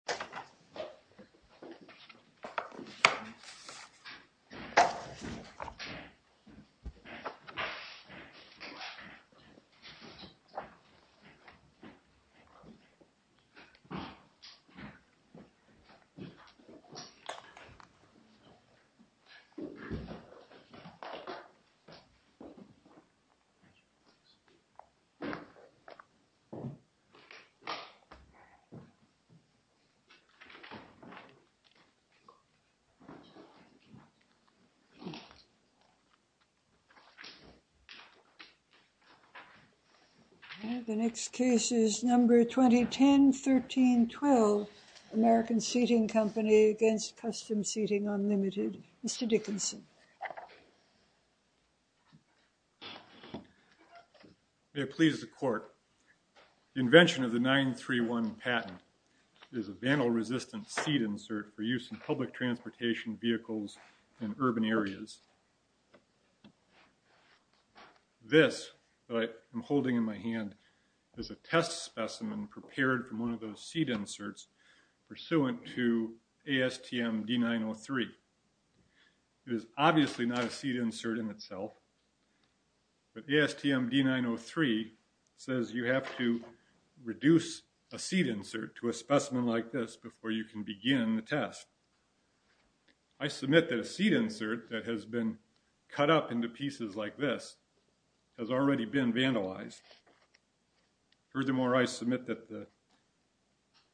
KUSTOM SEATING v. KUSTOM SEATING KUSTOM SEATING v. KUSTOM SEATING KUSTOM SEATING v. KUSTOM SEATING This that I am holding in my hand is a test specimen prepared from one of those seat inserts pursuant to ASTM D903. It is obviously not a seat insert in itself but the ASTM D903 says you have to reduce a seat insert to a specimen like this before you can begin the test. I submit that a seat insert that has been cut up into pieces like this has already been vandalized. Furthermore I submit that the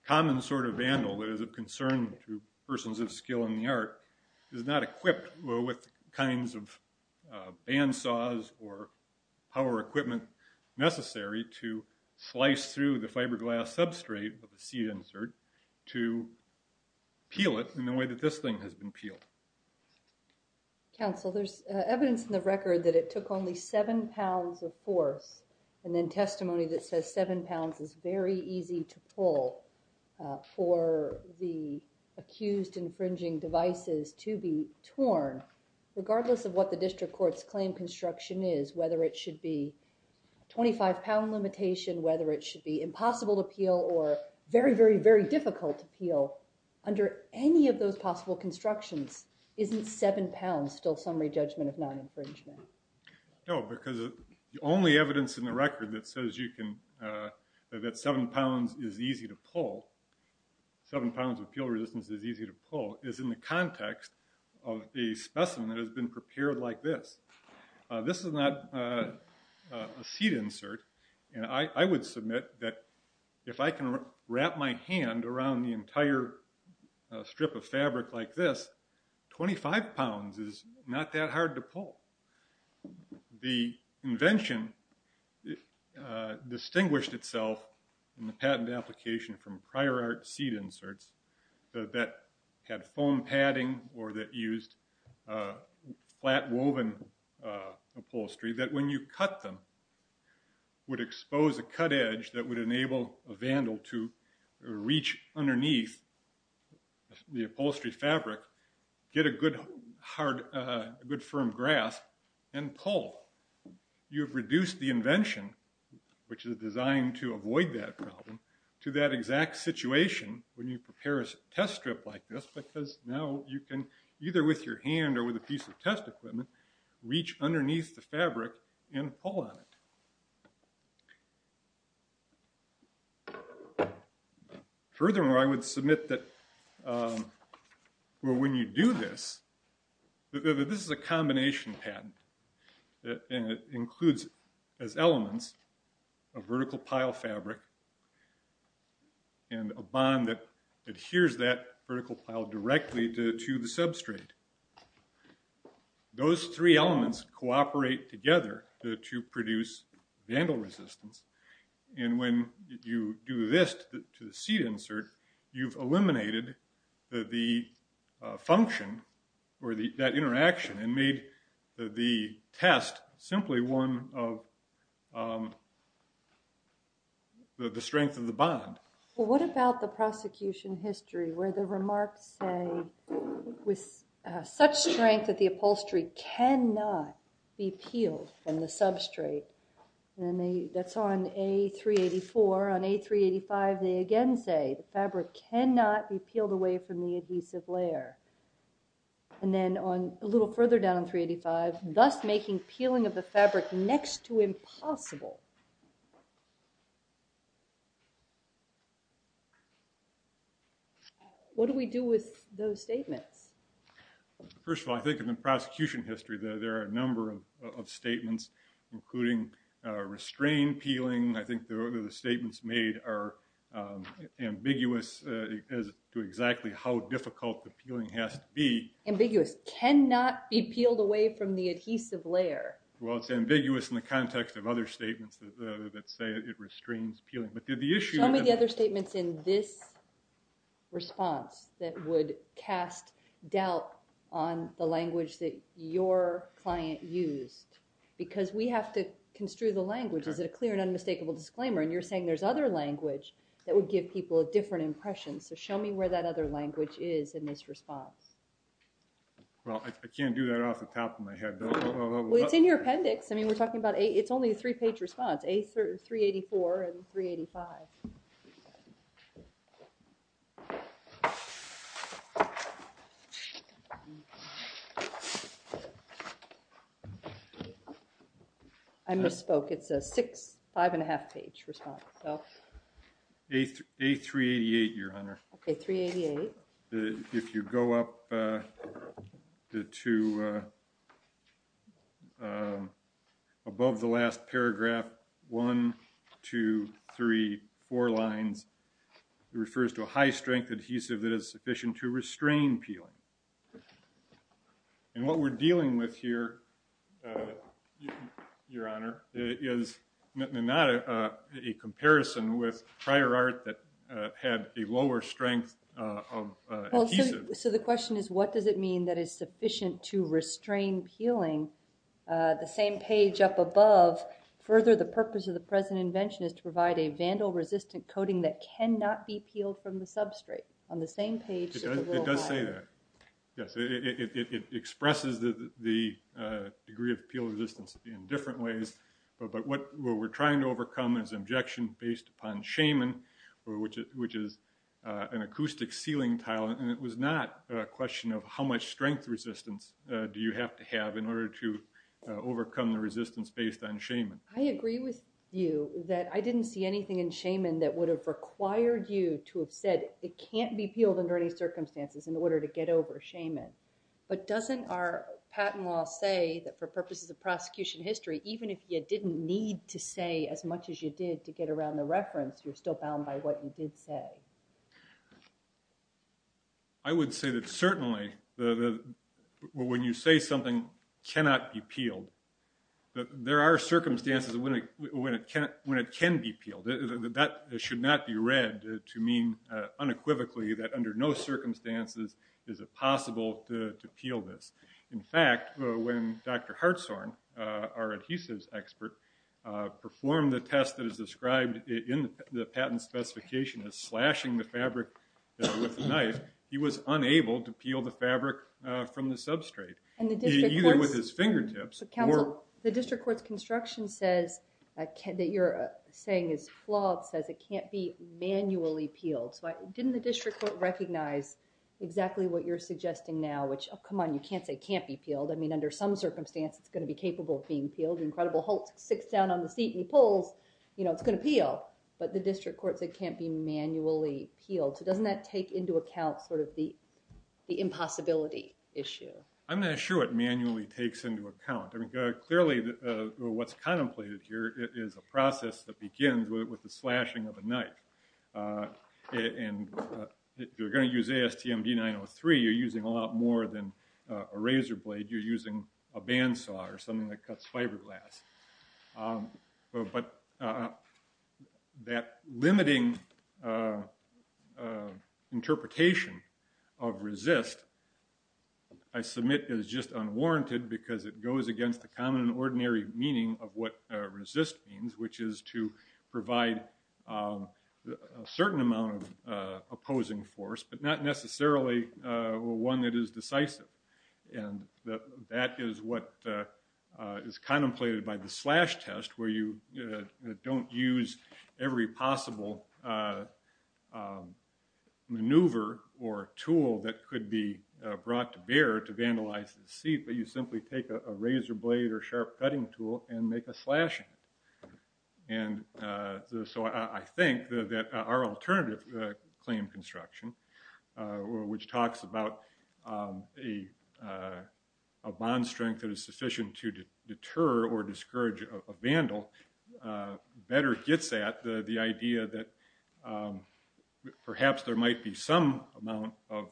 common sort of vandal that is of concern to persons of skill in the art is not equipped with kinds of band saws or power equipment necessary to slice through the fiberglass substrate of a seat insert to peel it in the same way that this thing has been peeled. Counsel there's evidence in the record that it took only seven pounds of force and then testimony that says seven pounds is very easy to pull for the accused infringing devices to be torn regardless of what the district courts claim construction is whether it should be 25 pound limitation whether it should be impossible to peel or very very very difficult to peel under any of those possible constructions isn't seven pounds still summary judgment of non- infringement? No because the only evidence in the record that says you can that seven pounds is easy to pull seven pounds of peel resistance is easy to pull is in the context of the specimen that has been prepared like this. This is not a seat insert and I would submit that if I can wrap my hand around the entire strip of fabric like this 25 pounds is not that hard to pull. The invention distinguished itself in the patent application from prior art seat that when you cut them would expose a cut edge that would enable a vandal to reach underneath the upholstery fabric get a good hard good firm grasp and pull. You have reduced the invention which is designed to avoid that problem to that exact situation when you prepare a test strip like this because now you can either with your hand or with a piece of test equipment reach underneath the fabric and pull on it. Furthermore I would submit that well when you do this this is a combination patent that includes as elements a vertical pile fabric and a bond that adheres that vertical pile directly to the substrate. Those three elements cooperate together to produce vandal resistance and when you do this to the seat insert you've eliminated the function or the that interaction and made the test simply one of the strength of the bond. What about the prosecution history where the remarks say with such strength that the upholstery cannot be peeled from the substrate and they that's on a 384 on a 385 they again say the fabric cannot be peeled away from the adhesive layer and then on a little further down 385 thus making peeling of the fabric next to possible. What do we do with those statements? First of all I think in the prosecution history there are a number of statements including restrained peeling I think the other statements made are ambiguous as to exactly how difficult the peeling has to be. Ambiguous cannot be peeled away from the other statements that say it restrains peeling but did the issue. Show me the other statements in this response that would cast doubt on the language that your client used because we have to construe the language is it a clear and unmistakable disclaimer and you're saying there's other language that would give people a different impression so show me where that other language is in this response. Well I can't do that off the top of my head. Well it's in your three-page response a 384 and 385. I misspoke it's a six five and a half page response so. A 388 your honor. Okay 388. If you go up the two above the last paragraph one two three four lines it refers to a high-strength adhesive that is sufficient to restrain peeling and what we're dealing with here your honor is not a comparison with prior art that had a lower strength of adhesive. So the question is what does it mean that is sufficient to restrain peeling the same page up above further the purpose of the present invention is to provide a vandal resistant coating that cannot be peeled from the substrate on the same page. It does say that yes it expresses the degree of peel resistance in different ways but what we're trying to overcome is objection based upon Shaman or which it which is an acoustic ceiling tile and it was not a question of how much strength resistance do you have to have in order to overcome the resistance based on Shaman. I agree with you that I didn't see anything in Shaman that would have required you to have said it can't be peeled under any circumstances in order to get over Shaman but doesn't our patent law say that for purposes of even if you didn't need to say as much as you did to get around the reference you're still bound by what you did say. I would say that certainly when you say something cannot be peeled there are circumstances when it can be peeled. That should not be read to mean unequivocally that under no circumstances is it possible to peel this. In fact when Dr. Hartzorn, our adhesives expert, performed the test that is described in the patent specification as slashing the fabric with a knife he was unable to peel the fabric from the substrate either with his fingertips. The district courts construction says that you're saying is flawed says it can't be manually peeled so didn't the district court recognize exactly what you're suggesting now which oh come on you can't say can't be peeled I mean under some circumstance it's incredible Holt sits down on the seat and he pulls you know it's gonna peel but the district courts it can't be manually peeled so doesn't that take into account sort of the the impossibility issue. I'm not sure it manually takes into account. I mean clearly what's contemplated here is a process that begins with the slashing of a knife and you're going to use ASTM D903 you're using a lot more than a razor blade you're using a bandsaw or something that cuts fiberglass but that limiting interpretation of resist I submit is just unwarranted because it goes against the common ordinary meaning of what resist means which is to provide a certain amount of opposing force but not necessarily one that is decisive and that is what is contemplated by the slash test where you don't use every possible maneuver or tool that could be brought to bear to vandalize the seat but you simply take a razor blade or sharp cutting tool and make a slash and so I think that our alternative claim construction which talks about a bond strength that is sufficient to deter or discourage a vandal better gets at the idea that perhaps there might be some amount of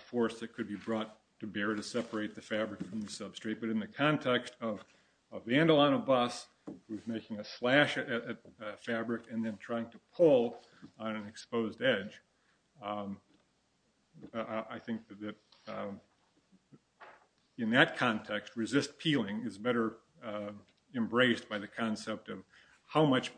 force that could be brought to bear to separate the fabric from the substrate but in the context of a vandal on a bus who's making a slash at fabric and then trying to pull on an exposed edge I think that in that context resist peeling is better embraced by the concept of how much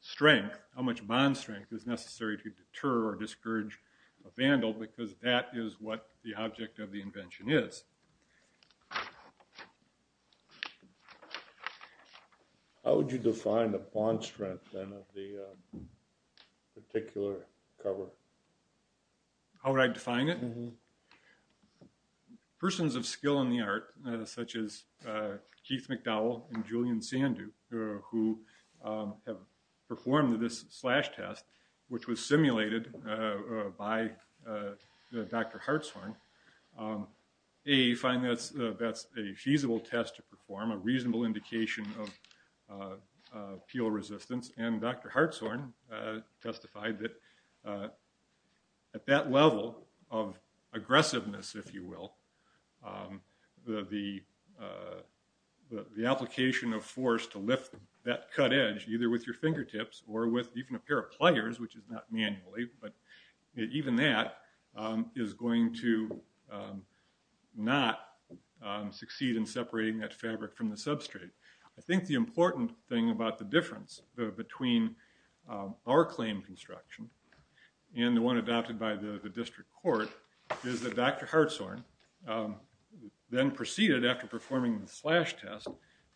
strength how much bond strength is necessary to deter or discourage a vandal because that is what the object of the invention is how would you define the bond strength then of the particular cover how would I define it persons of skill in the art such as Keith McDowell and Julian Sandu who have performed this slash test which was simulated by Dr. Hartshorne a find that's that's a feasible test to perform a reasonable indication of peel resistance and Dr. Hartshorne testified that at that level of aggressiveness if you will the the application of force to lift that cut edge either with your fingertips or with even a pair of not manually but even that is going to not succeed in separating that fabric from the substrate I think the important thing about the difference between our claim construction and the one adopted by the district court is that Dr. Hartshorne then proceeded after performing the slash test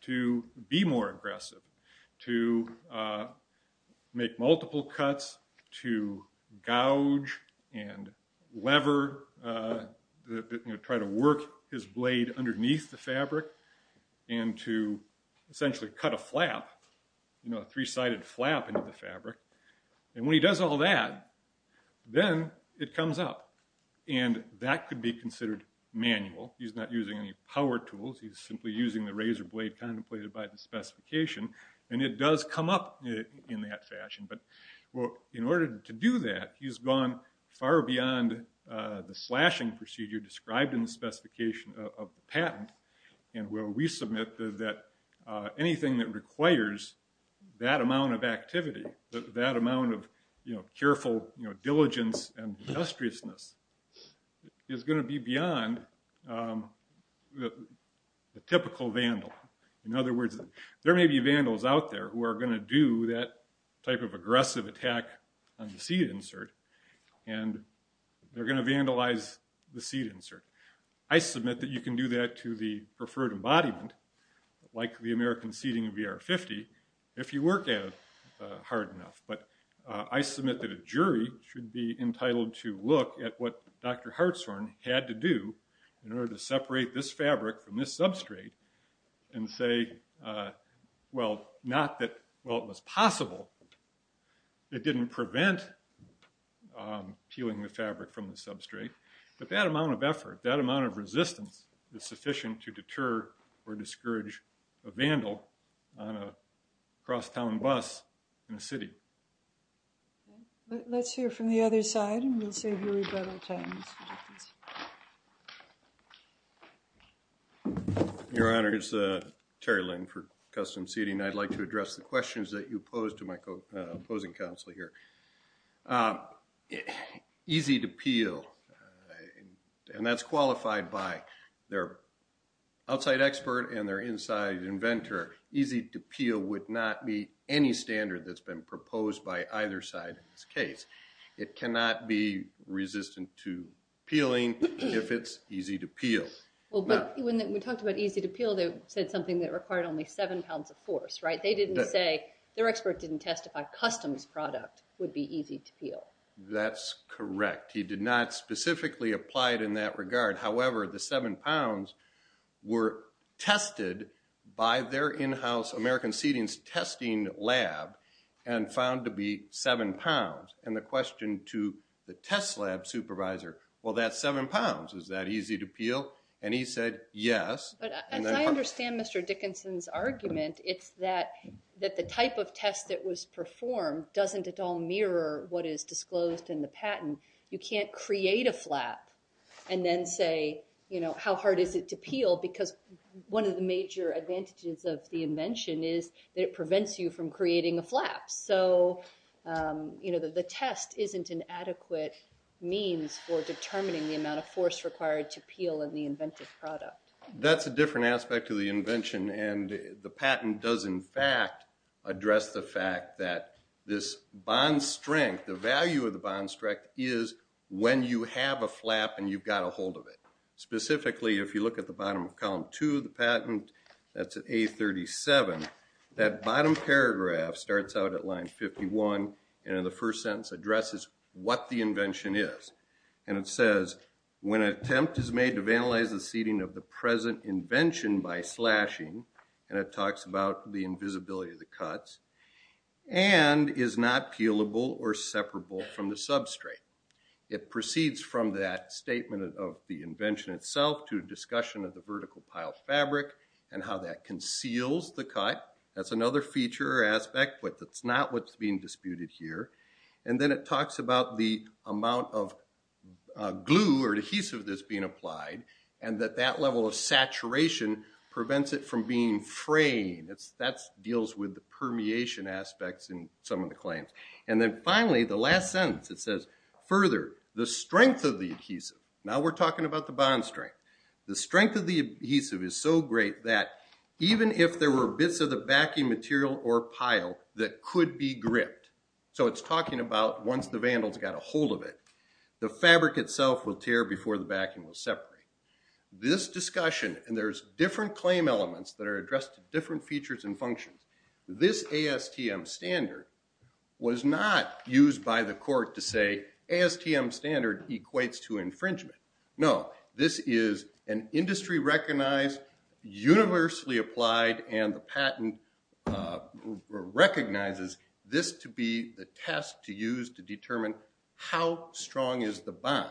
to be more manual cuts to gouge and lever try to work his blade underneath the fabric and to essentially cut a flap you know a three-sided flap into the fabric and when he does all that then it comes up and that could be considered manual he's not using any power tools he's simply using the razor blade contemplated by the specification and it does come up in that fashion but well in order to do that he's gone far beyond the slashing procedure described in the specification of the patent and where we submit that anything that requires that amount of activity that amount of you know careful you know diligence and industriousness is going to be beyond the typical vandal in other words there may be vandals out there who are going to do that type of aggressive attack on the seat insert and they're going to vandalize the seat insert I submit that you can do that to the preferred embodiment like the American seating VR 50 if you work at it hard enough but I submit that a jury should be entitled to look at what dr. Hartshorn had to do in order to separate this fabric from this substrate and say well not that well it was possible it didn't prevent peeling the fabric from the substrate but that amount of effort that amount of resistance is sufficient to deter or discourage a vandal on a crosstown bus in a city let's hear from the other side and we'll save your rebuttal time your honor it's a Terry Lynn for custom seating I'd like to address the questions that you posed to my opposing counsel here it easy to peel and that's qualified by their outside expert and their inside inventor easy to peel would not be any standard that's been proposed by either side in this case it cannot be resistant to peeling if it's easy to peel well but when we talked about easy to peel they said something that required only seven pounds of force right they didn't say their expert didn't testify customs product would be easy to peel that's correct he did not specifically applied in that regard however the seven pounds were tested by their in-house American seedings testing lab and found to be seven pounds and the question to the test lab supervisor well that's seven pounds is that easy to peel and he said yes I understand mr. Dickinson's argument it's that that the type of test that was performed doesn't at all mirror what is disclosed in the patent you can't create a flap and then say you know how hard is it to peel because one of the major advantages of the invention is that it prevents you from creating a flap so you know that the test isn't an adequate means for determining the amount of force required to peel in the inventive product that's a different aspect of the invention and the patent does in fact address the fact that this bond strength the value of the specifically if you look at the bottom of column to the patent that's a 37 that bottom paragraph starts out at line 51 and in the first sentence addresses what the invention is and it says when an attempt is made to vandalize the seating of the present invention by slashing and it talks about the invisibility of the cuts and is not peelable or separable from the substrate it proceeds from that statement of the invention itself to discussion of the vertical pile fabric and how that conceals the cut that's another feature aspect but that's not what's being disputed here and then it talks about the amount of glue or adhesive that's being applied and that that level of saturation prevents it from being fraying it's that deals with the permeation aspects in some of the claims and then finally the last sentence it says further the strength of the adhesive now we're talking about the bond strength the strength of the adhesive is so great that even if there were bits of the backing material or pile that could be gripped so it's talking about once the vandals got a hold of it the fabric itself will tear before the backing will separate this discussion and there's different claim elements that are addressed to different features and functions this ASTM standard was not used by the court to say ASTM standard equates to infringement no this is an industry recognized universally applied and the patent recognizes this to be the test to use to determine how strong is the bond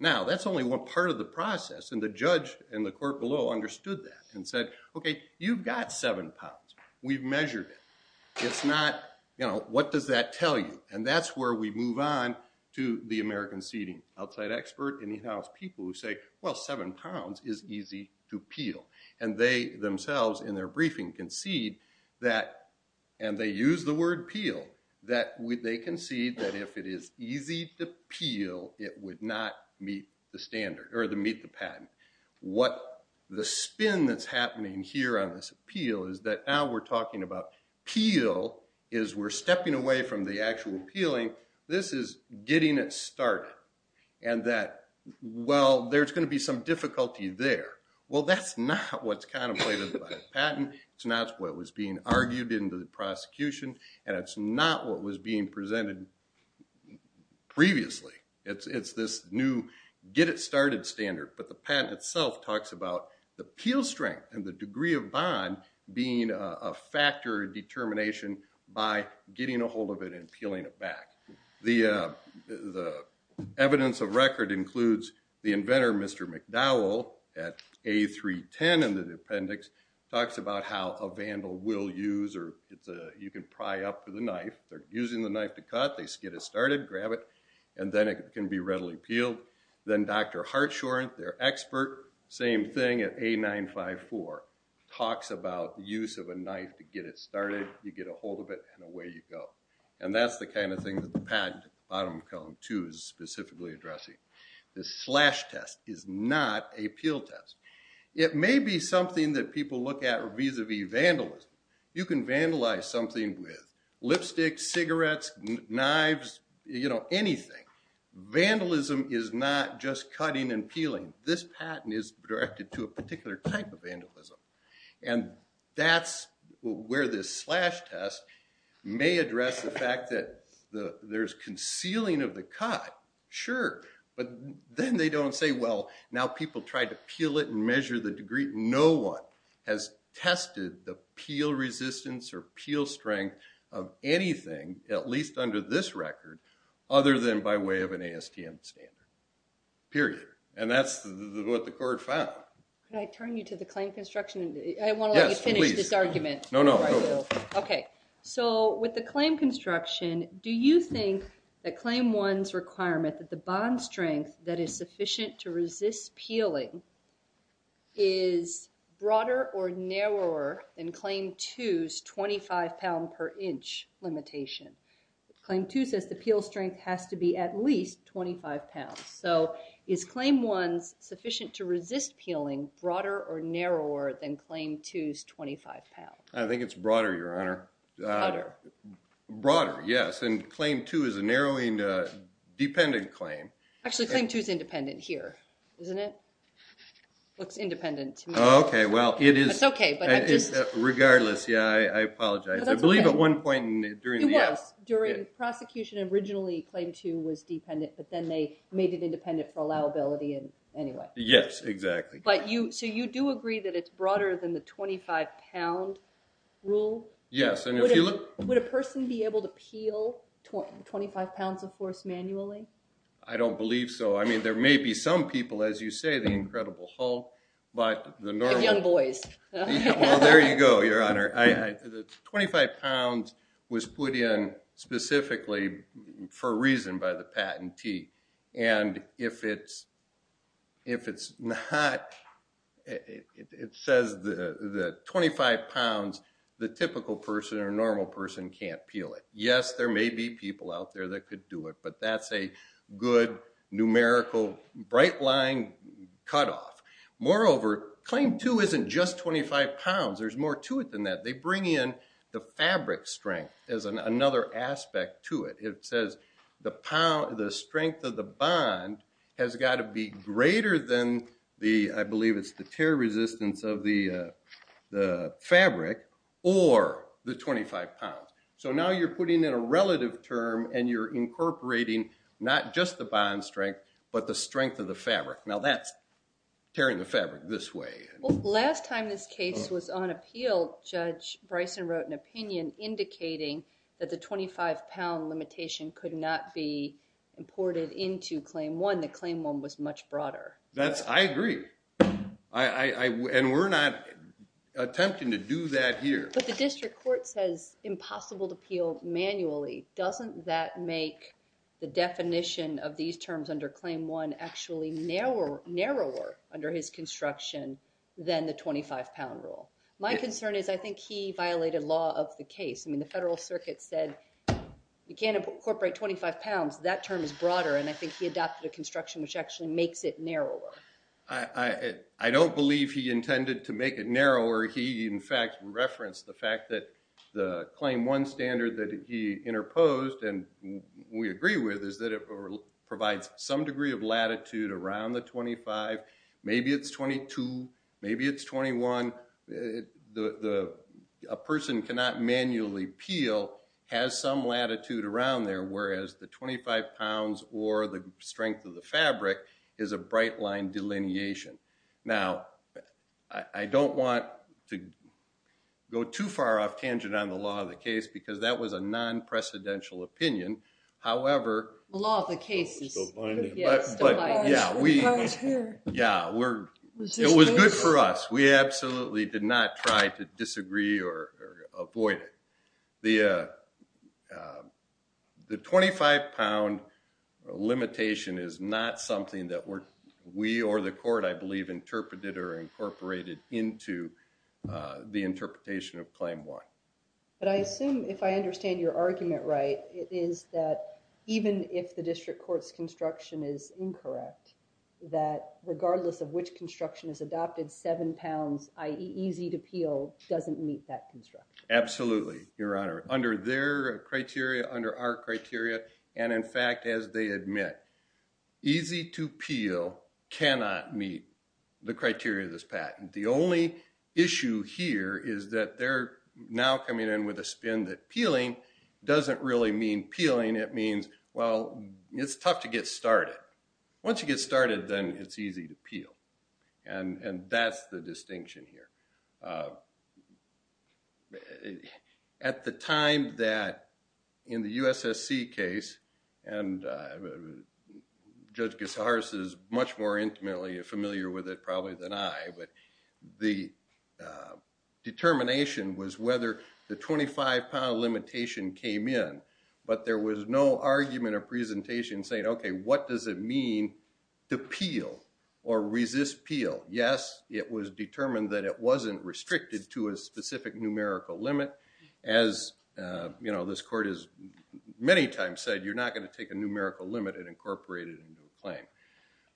now that's only one part of the process and the judge and the court below understood that and said okay you've got seven pounds we've measured it it's not you know what does that tell you and that's where we move on to the American seating outside expert in the house people who say well seven pounds is easy to peel and they themselves in their briefing concede that and they use the word peel that would they concede that if it is easy to peel it would not meet the standard or the meet the patent what the spin that's happening here on this appeal is that now we're talking about peel is we're stepping away from the actual appealing this is getting it started and that well there's going to be some difficulty there well that's not what's contemplated by patent it's not what was being argued into the prosecution and it's not what was being presented previously it's it's this new get it started standard but the patent itself talks about the peel strength and the degree of bond being a factor determination by getting a hold of it and peeling it back the the evidence of record includes the inventor mr. McDowell at a 310 and the appendix talks about how a vandal will use or it's a you can pry up for the knife they're using the knife to cut they get it started grab it and then it can be readily peeled then dr. Hartshorn their expert same thing at a nine five four talks about the use of a knife to get it started you get a hold of it and away you go and that's the kind of thing that the patent I don't come to is specifically addressing the slash test is not a peel test it may be something that people look at or vis-a-vis vandalism you can vandalize something with lipstick cigarettes knives you know anything vandalism is not just cutting and peeling this patent is directed to a particular type of vandalism and that's where this slash test may address the fact that the there's concealing of the cut sure but then they don't say well now people tried to peel it and measure the degree no one has tested the peel resistance or peel strength of anything at least under this record other than by way of an ASTM standard period and that's what the court found can I turn you to the claim construction I want to finish this argument no no okay so with the claim construction do you think that claim one's requirement that the bond strength that is sufficient to resist peeling is broader or narrower than claim twos 25 pound per inch limitation claim to says the peel strength has to be at least 25 pounds so is claim one's sufficient to resist peeling broader or narrower than claim twos 25 pounds I think it's broader your honor broader yes and claim two is a narrowing dependent claim actually claim twos regardless yeah I apologize I believe at one point during the prosecution originally claim to was dependent but then they made it independent for allowability and anyway yes exactly but you so you do agree that it's broader than the 25 pound rule yes and if you look would a person be able to peel 25 pounds of force manually I don't believe so I mean there may be some people as you say the incredible Hulk but the normal young boys there you go your honor I 25 pounds was put in specifically for a reason by the patentee and if it's if it's not it says the the 25 pounds the typical person or normal person can't peel it yes there may be people out there that could do it but that's a good numerical bright line cutoff moreover claim to isn't just 25 pounds there's more to it than that they bring in the fabric strength as an another aspect to it it says the power the strength of the bond has got to be greater than the I believe it's the tear resistance of the the fabric or the 25 so now you're putting in a relative term and you're incorporating not just the bond strength but the strength of the fabric now that's tearing the fabric this way last time this case was on appeal judge Bryson wrote an opinion indicating that the 25 pound limitation could not be imported into claim one the claim one was much broader that's I agree I and we're not attempting to do that here but the district court says impossible to peel manually doesn't that make the definition of these terms under claim one actually narrower narrower under his construction than the 25 pound rule my concern is I think he violated law of the case I mean the federal circuit said you can't incorporate 25 pounds that term is broader and I think he adopted a construction which actually makes it narrower I I don't believe he intended to make it narrower he in fact referenced the fact that the claim one standard that he interposed and we agree with is that it provides some degree of latitude around the 25 maybe it's 22 maybe it's 21 the person cannot manually peel has some latitude around there whereas the 25 pounds or the strength of the fabric is a bright line delineation now I don't want to go too far off tangent on the law of the case because that was a non-precedential opinion however law the case yeah we yeah we're it was good for us we absolutely did not try to disagree or avoid it the the 25 pound limitation is not something that we're we or the court I believe interpreted or incorporated into the interpretation of claim one but I assume if I understand your argument right it is that even if the district courts construction is incorrect that regardless of which construction is adopted seven pounds ie easy to peel doesn't meet that construct absolutely your honor under their criteria under our criteria and in fact as they admit easy to peel cannot meet the criteria of this patent the only issue here is that they're now coming in with a spin that peeling doesn't really mean peeling it means well it's tough to get started once you get started then it's easy to at the time that in the USSC case and judge guitarist is much more intimately familiar with it probably than I but the determination was whether the 25 pound limitation came in but there was no argument or presentation saying okay what does it mean to peel or resist peel yes it was determined that it wasn't restricted to a specific numerical limit as you know this court is many times said you're not going to take a numerical limit and incorporated into a claim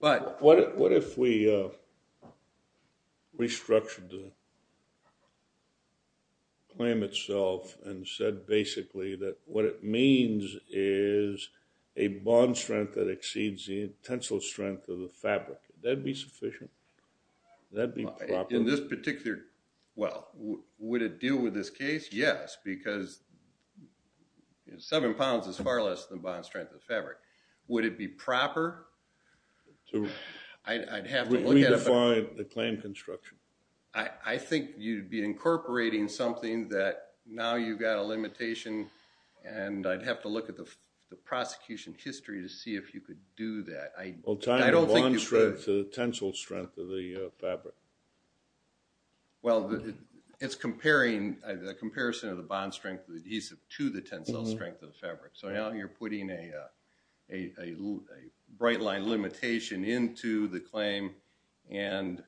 but what if we restructured the claim itself and said basically that what it means is a bond strength that exceeds the tensile strength of the well would it deal with this case yes because seven pounds is far less than bond strength of fabric would it be proper so I'd have to look at the claim construction I think you'd be incorporating something that now you've got a limitation and I'd have to look at the prosecution history to see if you could do that I don't want to shred to the tensile strength of the fabric well it's comparing the comparison of the bond strength adhesive to the tensile strength of the fabric so now you're putting a bright line limitation into the claim and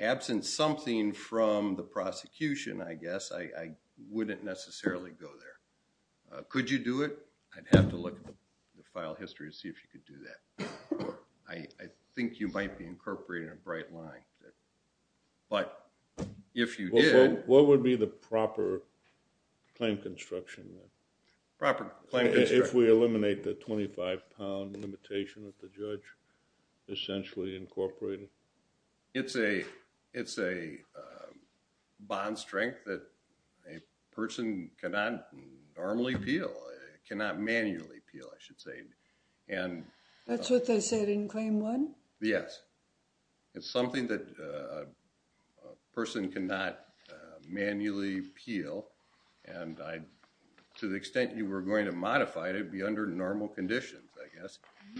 absent something from the prosecution I guess I wouldn't necessarily go there could you do it I'd have to look at the file history to see if you could do that I think you might be incorporating a bright line but if you do what would be the proper claim construction proper claim if we eliminate the 25 pound limitation that the judge essentially incorporated it's a it's a bond strength that a person cannot normally peel it cannot manually peel I should say and that's what they said in claim one yes it's something that a person cannot manually peel and I to the extent you were going to modify to be under normal conditions I guess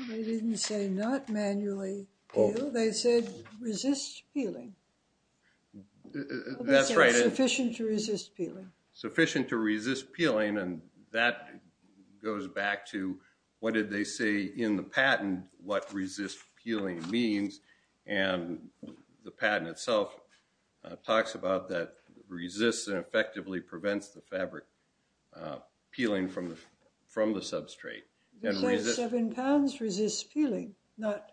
they didn't say not manually oh they said resist peeling that's right efficient to resist peeling sufficient to resist peeling and that goes back to what did they say in the patent what resist peeling means and the patent itself talks about that resists and pounds resists peeling not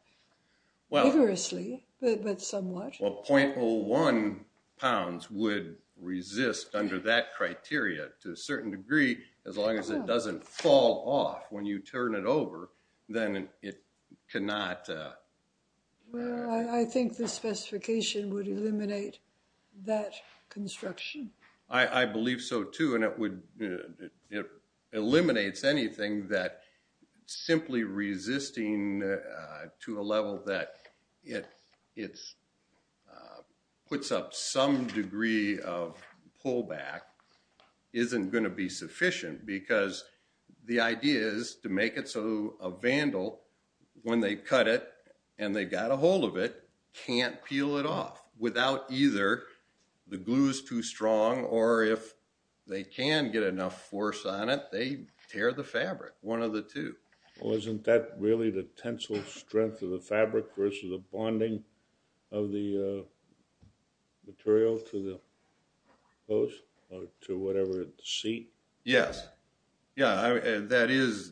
well rigorously but somewhat well 0.01 pounds would resist under that criteria to a certain degree as long as it doesn't fall off when you turn it over then it cannot I think the specification would that simply resisting to a level that it it's puts up some degree of pullback isn't going to be sufficient because the idea is to make it so a vandal when they cut it and they got a hold of it can't peel it off without either the glues too strong or if they can get enough force on it they tear the fabric one of the two well isn't that really the tensile strength of the fabric versus a bonding of the material to the hose or to whatever it see yes yeah that is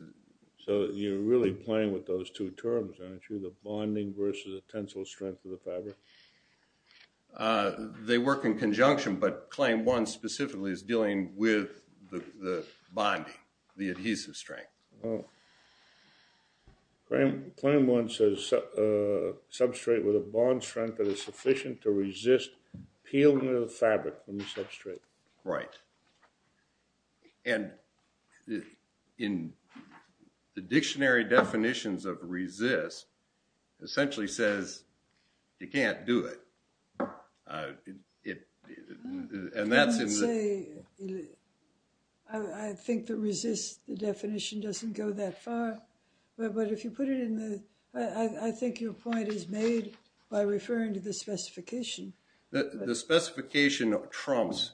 so you're really playing with those two terms aren't you the bonding versus a conjunction but claim one specifically is dealing with the bonding the adhesive strength well Graham claim one says substrate with a bond strength that is sufficient to resist peeling of the fabric substrate right and in the and that's it I think that resists the definition doesn't go that far but if you put it in the I think your point is made by referring to the specification the specification of Trump's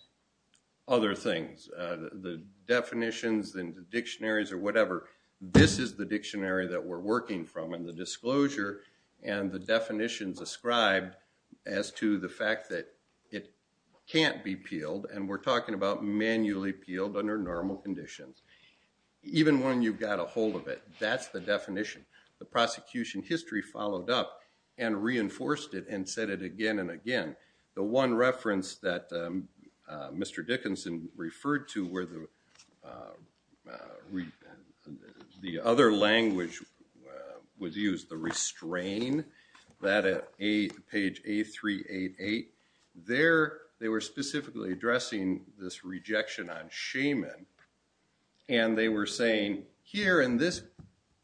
other things the definitions and dictionaries or whatever this is the dictionary that we're working from and the disclosure and the definitions ascribed as to the fact that it can't be peeled and we're talking about manually peeled under normal conditions even when you've got a hold of it that's the definition the prosecution history followed up and reinforced it and said it again and again the one reference that mr. Dickinson referred to where the the other language was used the restrain that at a page a 388 there they were specifically addressing this rejection on shaman and they were saying here in this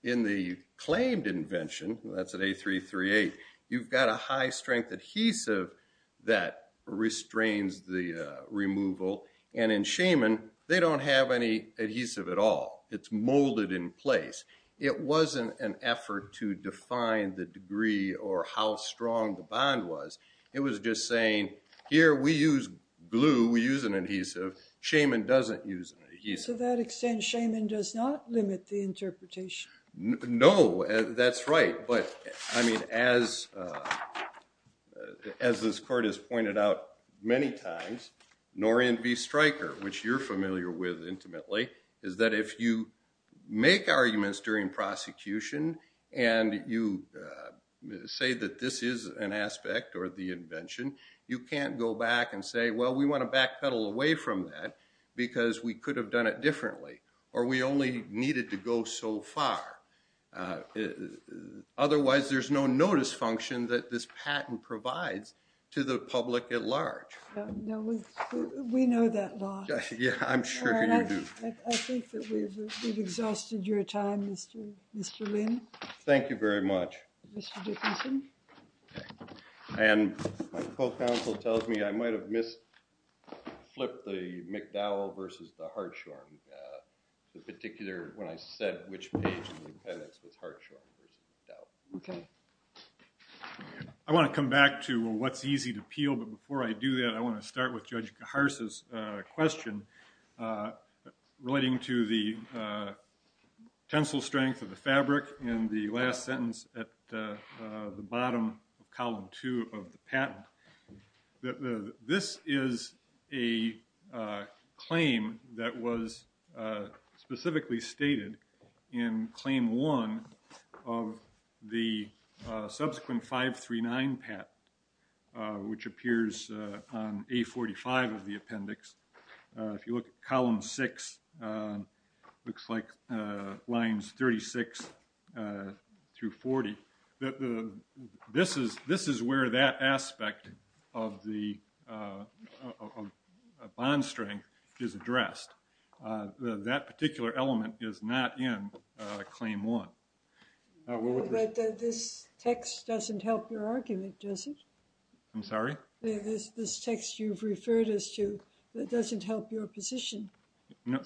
in the claimed invention that's at a 338 you've got a high strength adhesive that restrains the removal and in shaman they don't have any adhesive at all it's molded in place it wasn't an effort to define the degree or how strong the bond was it was just saying here we use glue we use an adhesive shaman doesn't use that extent shaman does not limit the interpretation no that's right but I mean as as this court has pointed out many times Norian be striker which you're familiar with intimately is that if you make arguments during prosecution and you say that this is an aspect or the invention you can't go back and say well we want to back pedal away from that because we could have done it differently or we only needed to go so far otherwise there's no notice function that this patent provides to the public at large we know that yeah I'm sure we've exhausted your time mr. mr. Lynn thank you very much and my co-counsel tells me I might have missed flip the McDowell versus the Hartshorne the particular when I said which I want to come back to what's easy to peel but before I do that I want to start with judge Harris's question relating to the tensile strength of the fabric and the last sentence at the bottom of column two of the patent that this is a claim that was specifically stated in claim one of the subsequent five three nine pat which appears on a 45 of the appendix if you look at column six looks like lines 36 through 40 this is this is where that aspect of the bond strength is addressed that particular element is not in claim one this text doesn't help your argument does it I'm sorry this text you've referred us to doesn't help your position no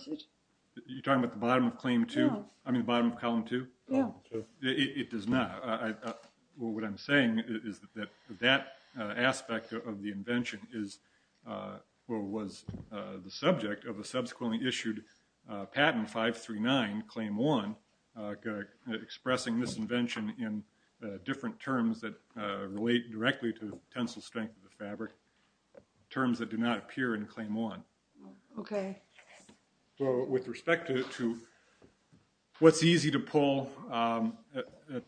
you're talking about the bottom of claim to I mean bottom of column two yeah it does not what I'm saying is that that aspect of the invention is what was the subject of a subsequently issued patent five three nine claim one expressing this invention in different terms that relate directly to tensile strength of the fabric terms that do not appear in claim one okay so with respect to what's easy to pull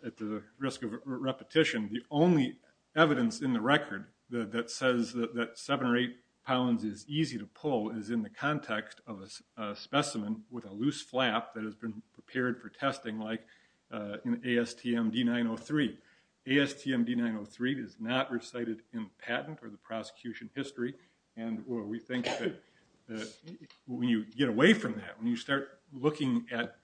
at the risk of repetition the only evidence in the record that says that seven or eight pounds is easy to pull is in the context of a specimen with a loose flap that has been prepared for testing like in ASTM d903 ASTM d903 is not recited in patent or the when you get away from that when you start looking at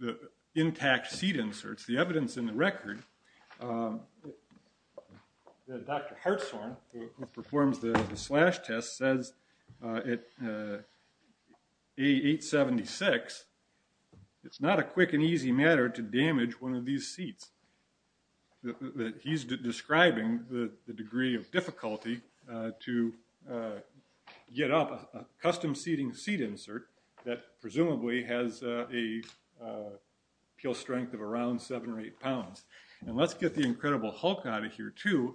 the intact seat inserts the evidence in the record performs the slash test says it a 876 it's not a quick and easy matter to damage one of these seats that he's describing the degree of difficulty to get up a custom seating seat insert that presumably has a peel strength of around seven or eight pounds and let's get the Incredible Hulk out of here too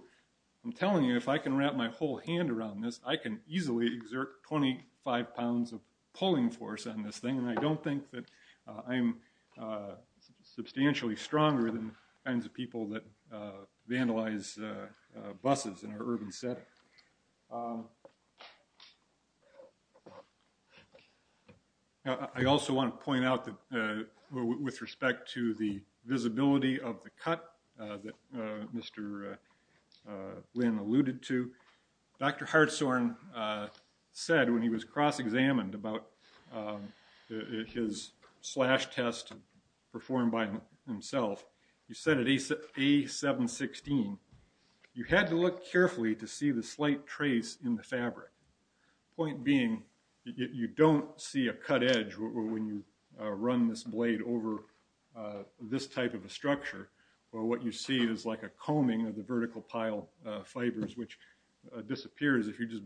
I'm telling you if I can wrap my whole hand around this I can easily exert 25 pounds of pulling force on this thing and I don't think that I'm substantially stronger than kinds of people that vandalize buses in our urban set I also want to point out that with respect to the visibility of the cut that mr. Lynn alluded to dr. Hartzorn said when he was cross-examined about his slash test performed by himself he said it is a 716 you had to look carefully to see the slight trace in the fabric point being you don't see a cut edge when you run this blade over this type of a structure or what you see is like a combing of the vertical pile fibers which disappears if you just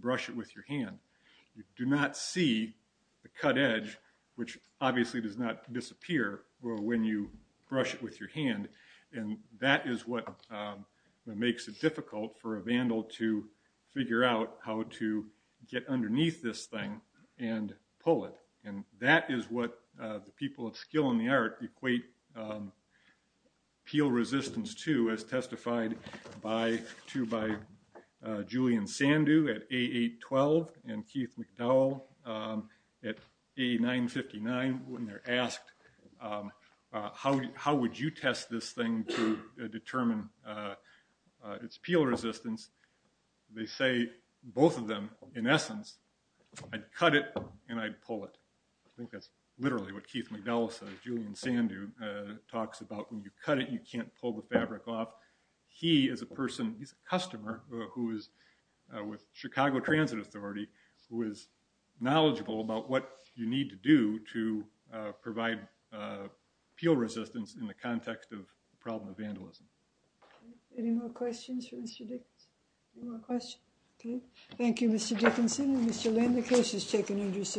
edge which obviously does not disappear well when you brush it with your hand and that is what makes it difficult for a vandal to figure out how to get underneath this thing and pull it and that is what the people of skill in the art equate peel resistance to as testified by two by Julian Sandu at a 812 and Keith McDowell at a 959 when they're asked how would you test this thing to determine its peel resistance they say both of them in essence I'd cut it and I'd pull it I think that's literally what Keith McDowell says Julian Sandu talks about when you cut it you can't pull the fabric off he is a person he's a customer who is with Chicago Transit Authority who is knowledgeable about what you need to do to provide peel resistance in the context of the problem of vandalism any more questions for mr. Dick okay thank you mr. Dickinson mr. land the case is taken into submission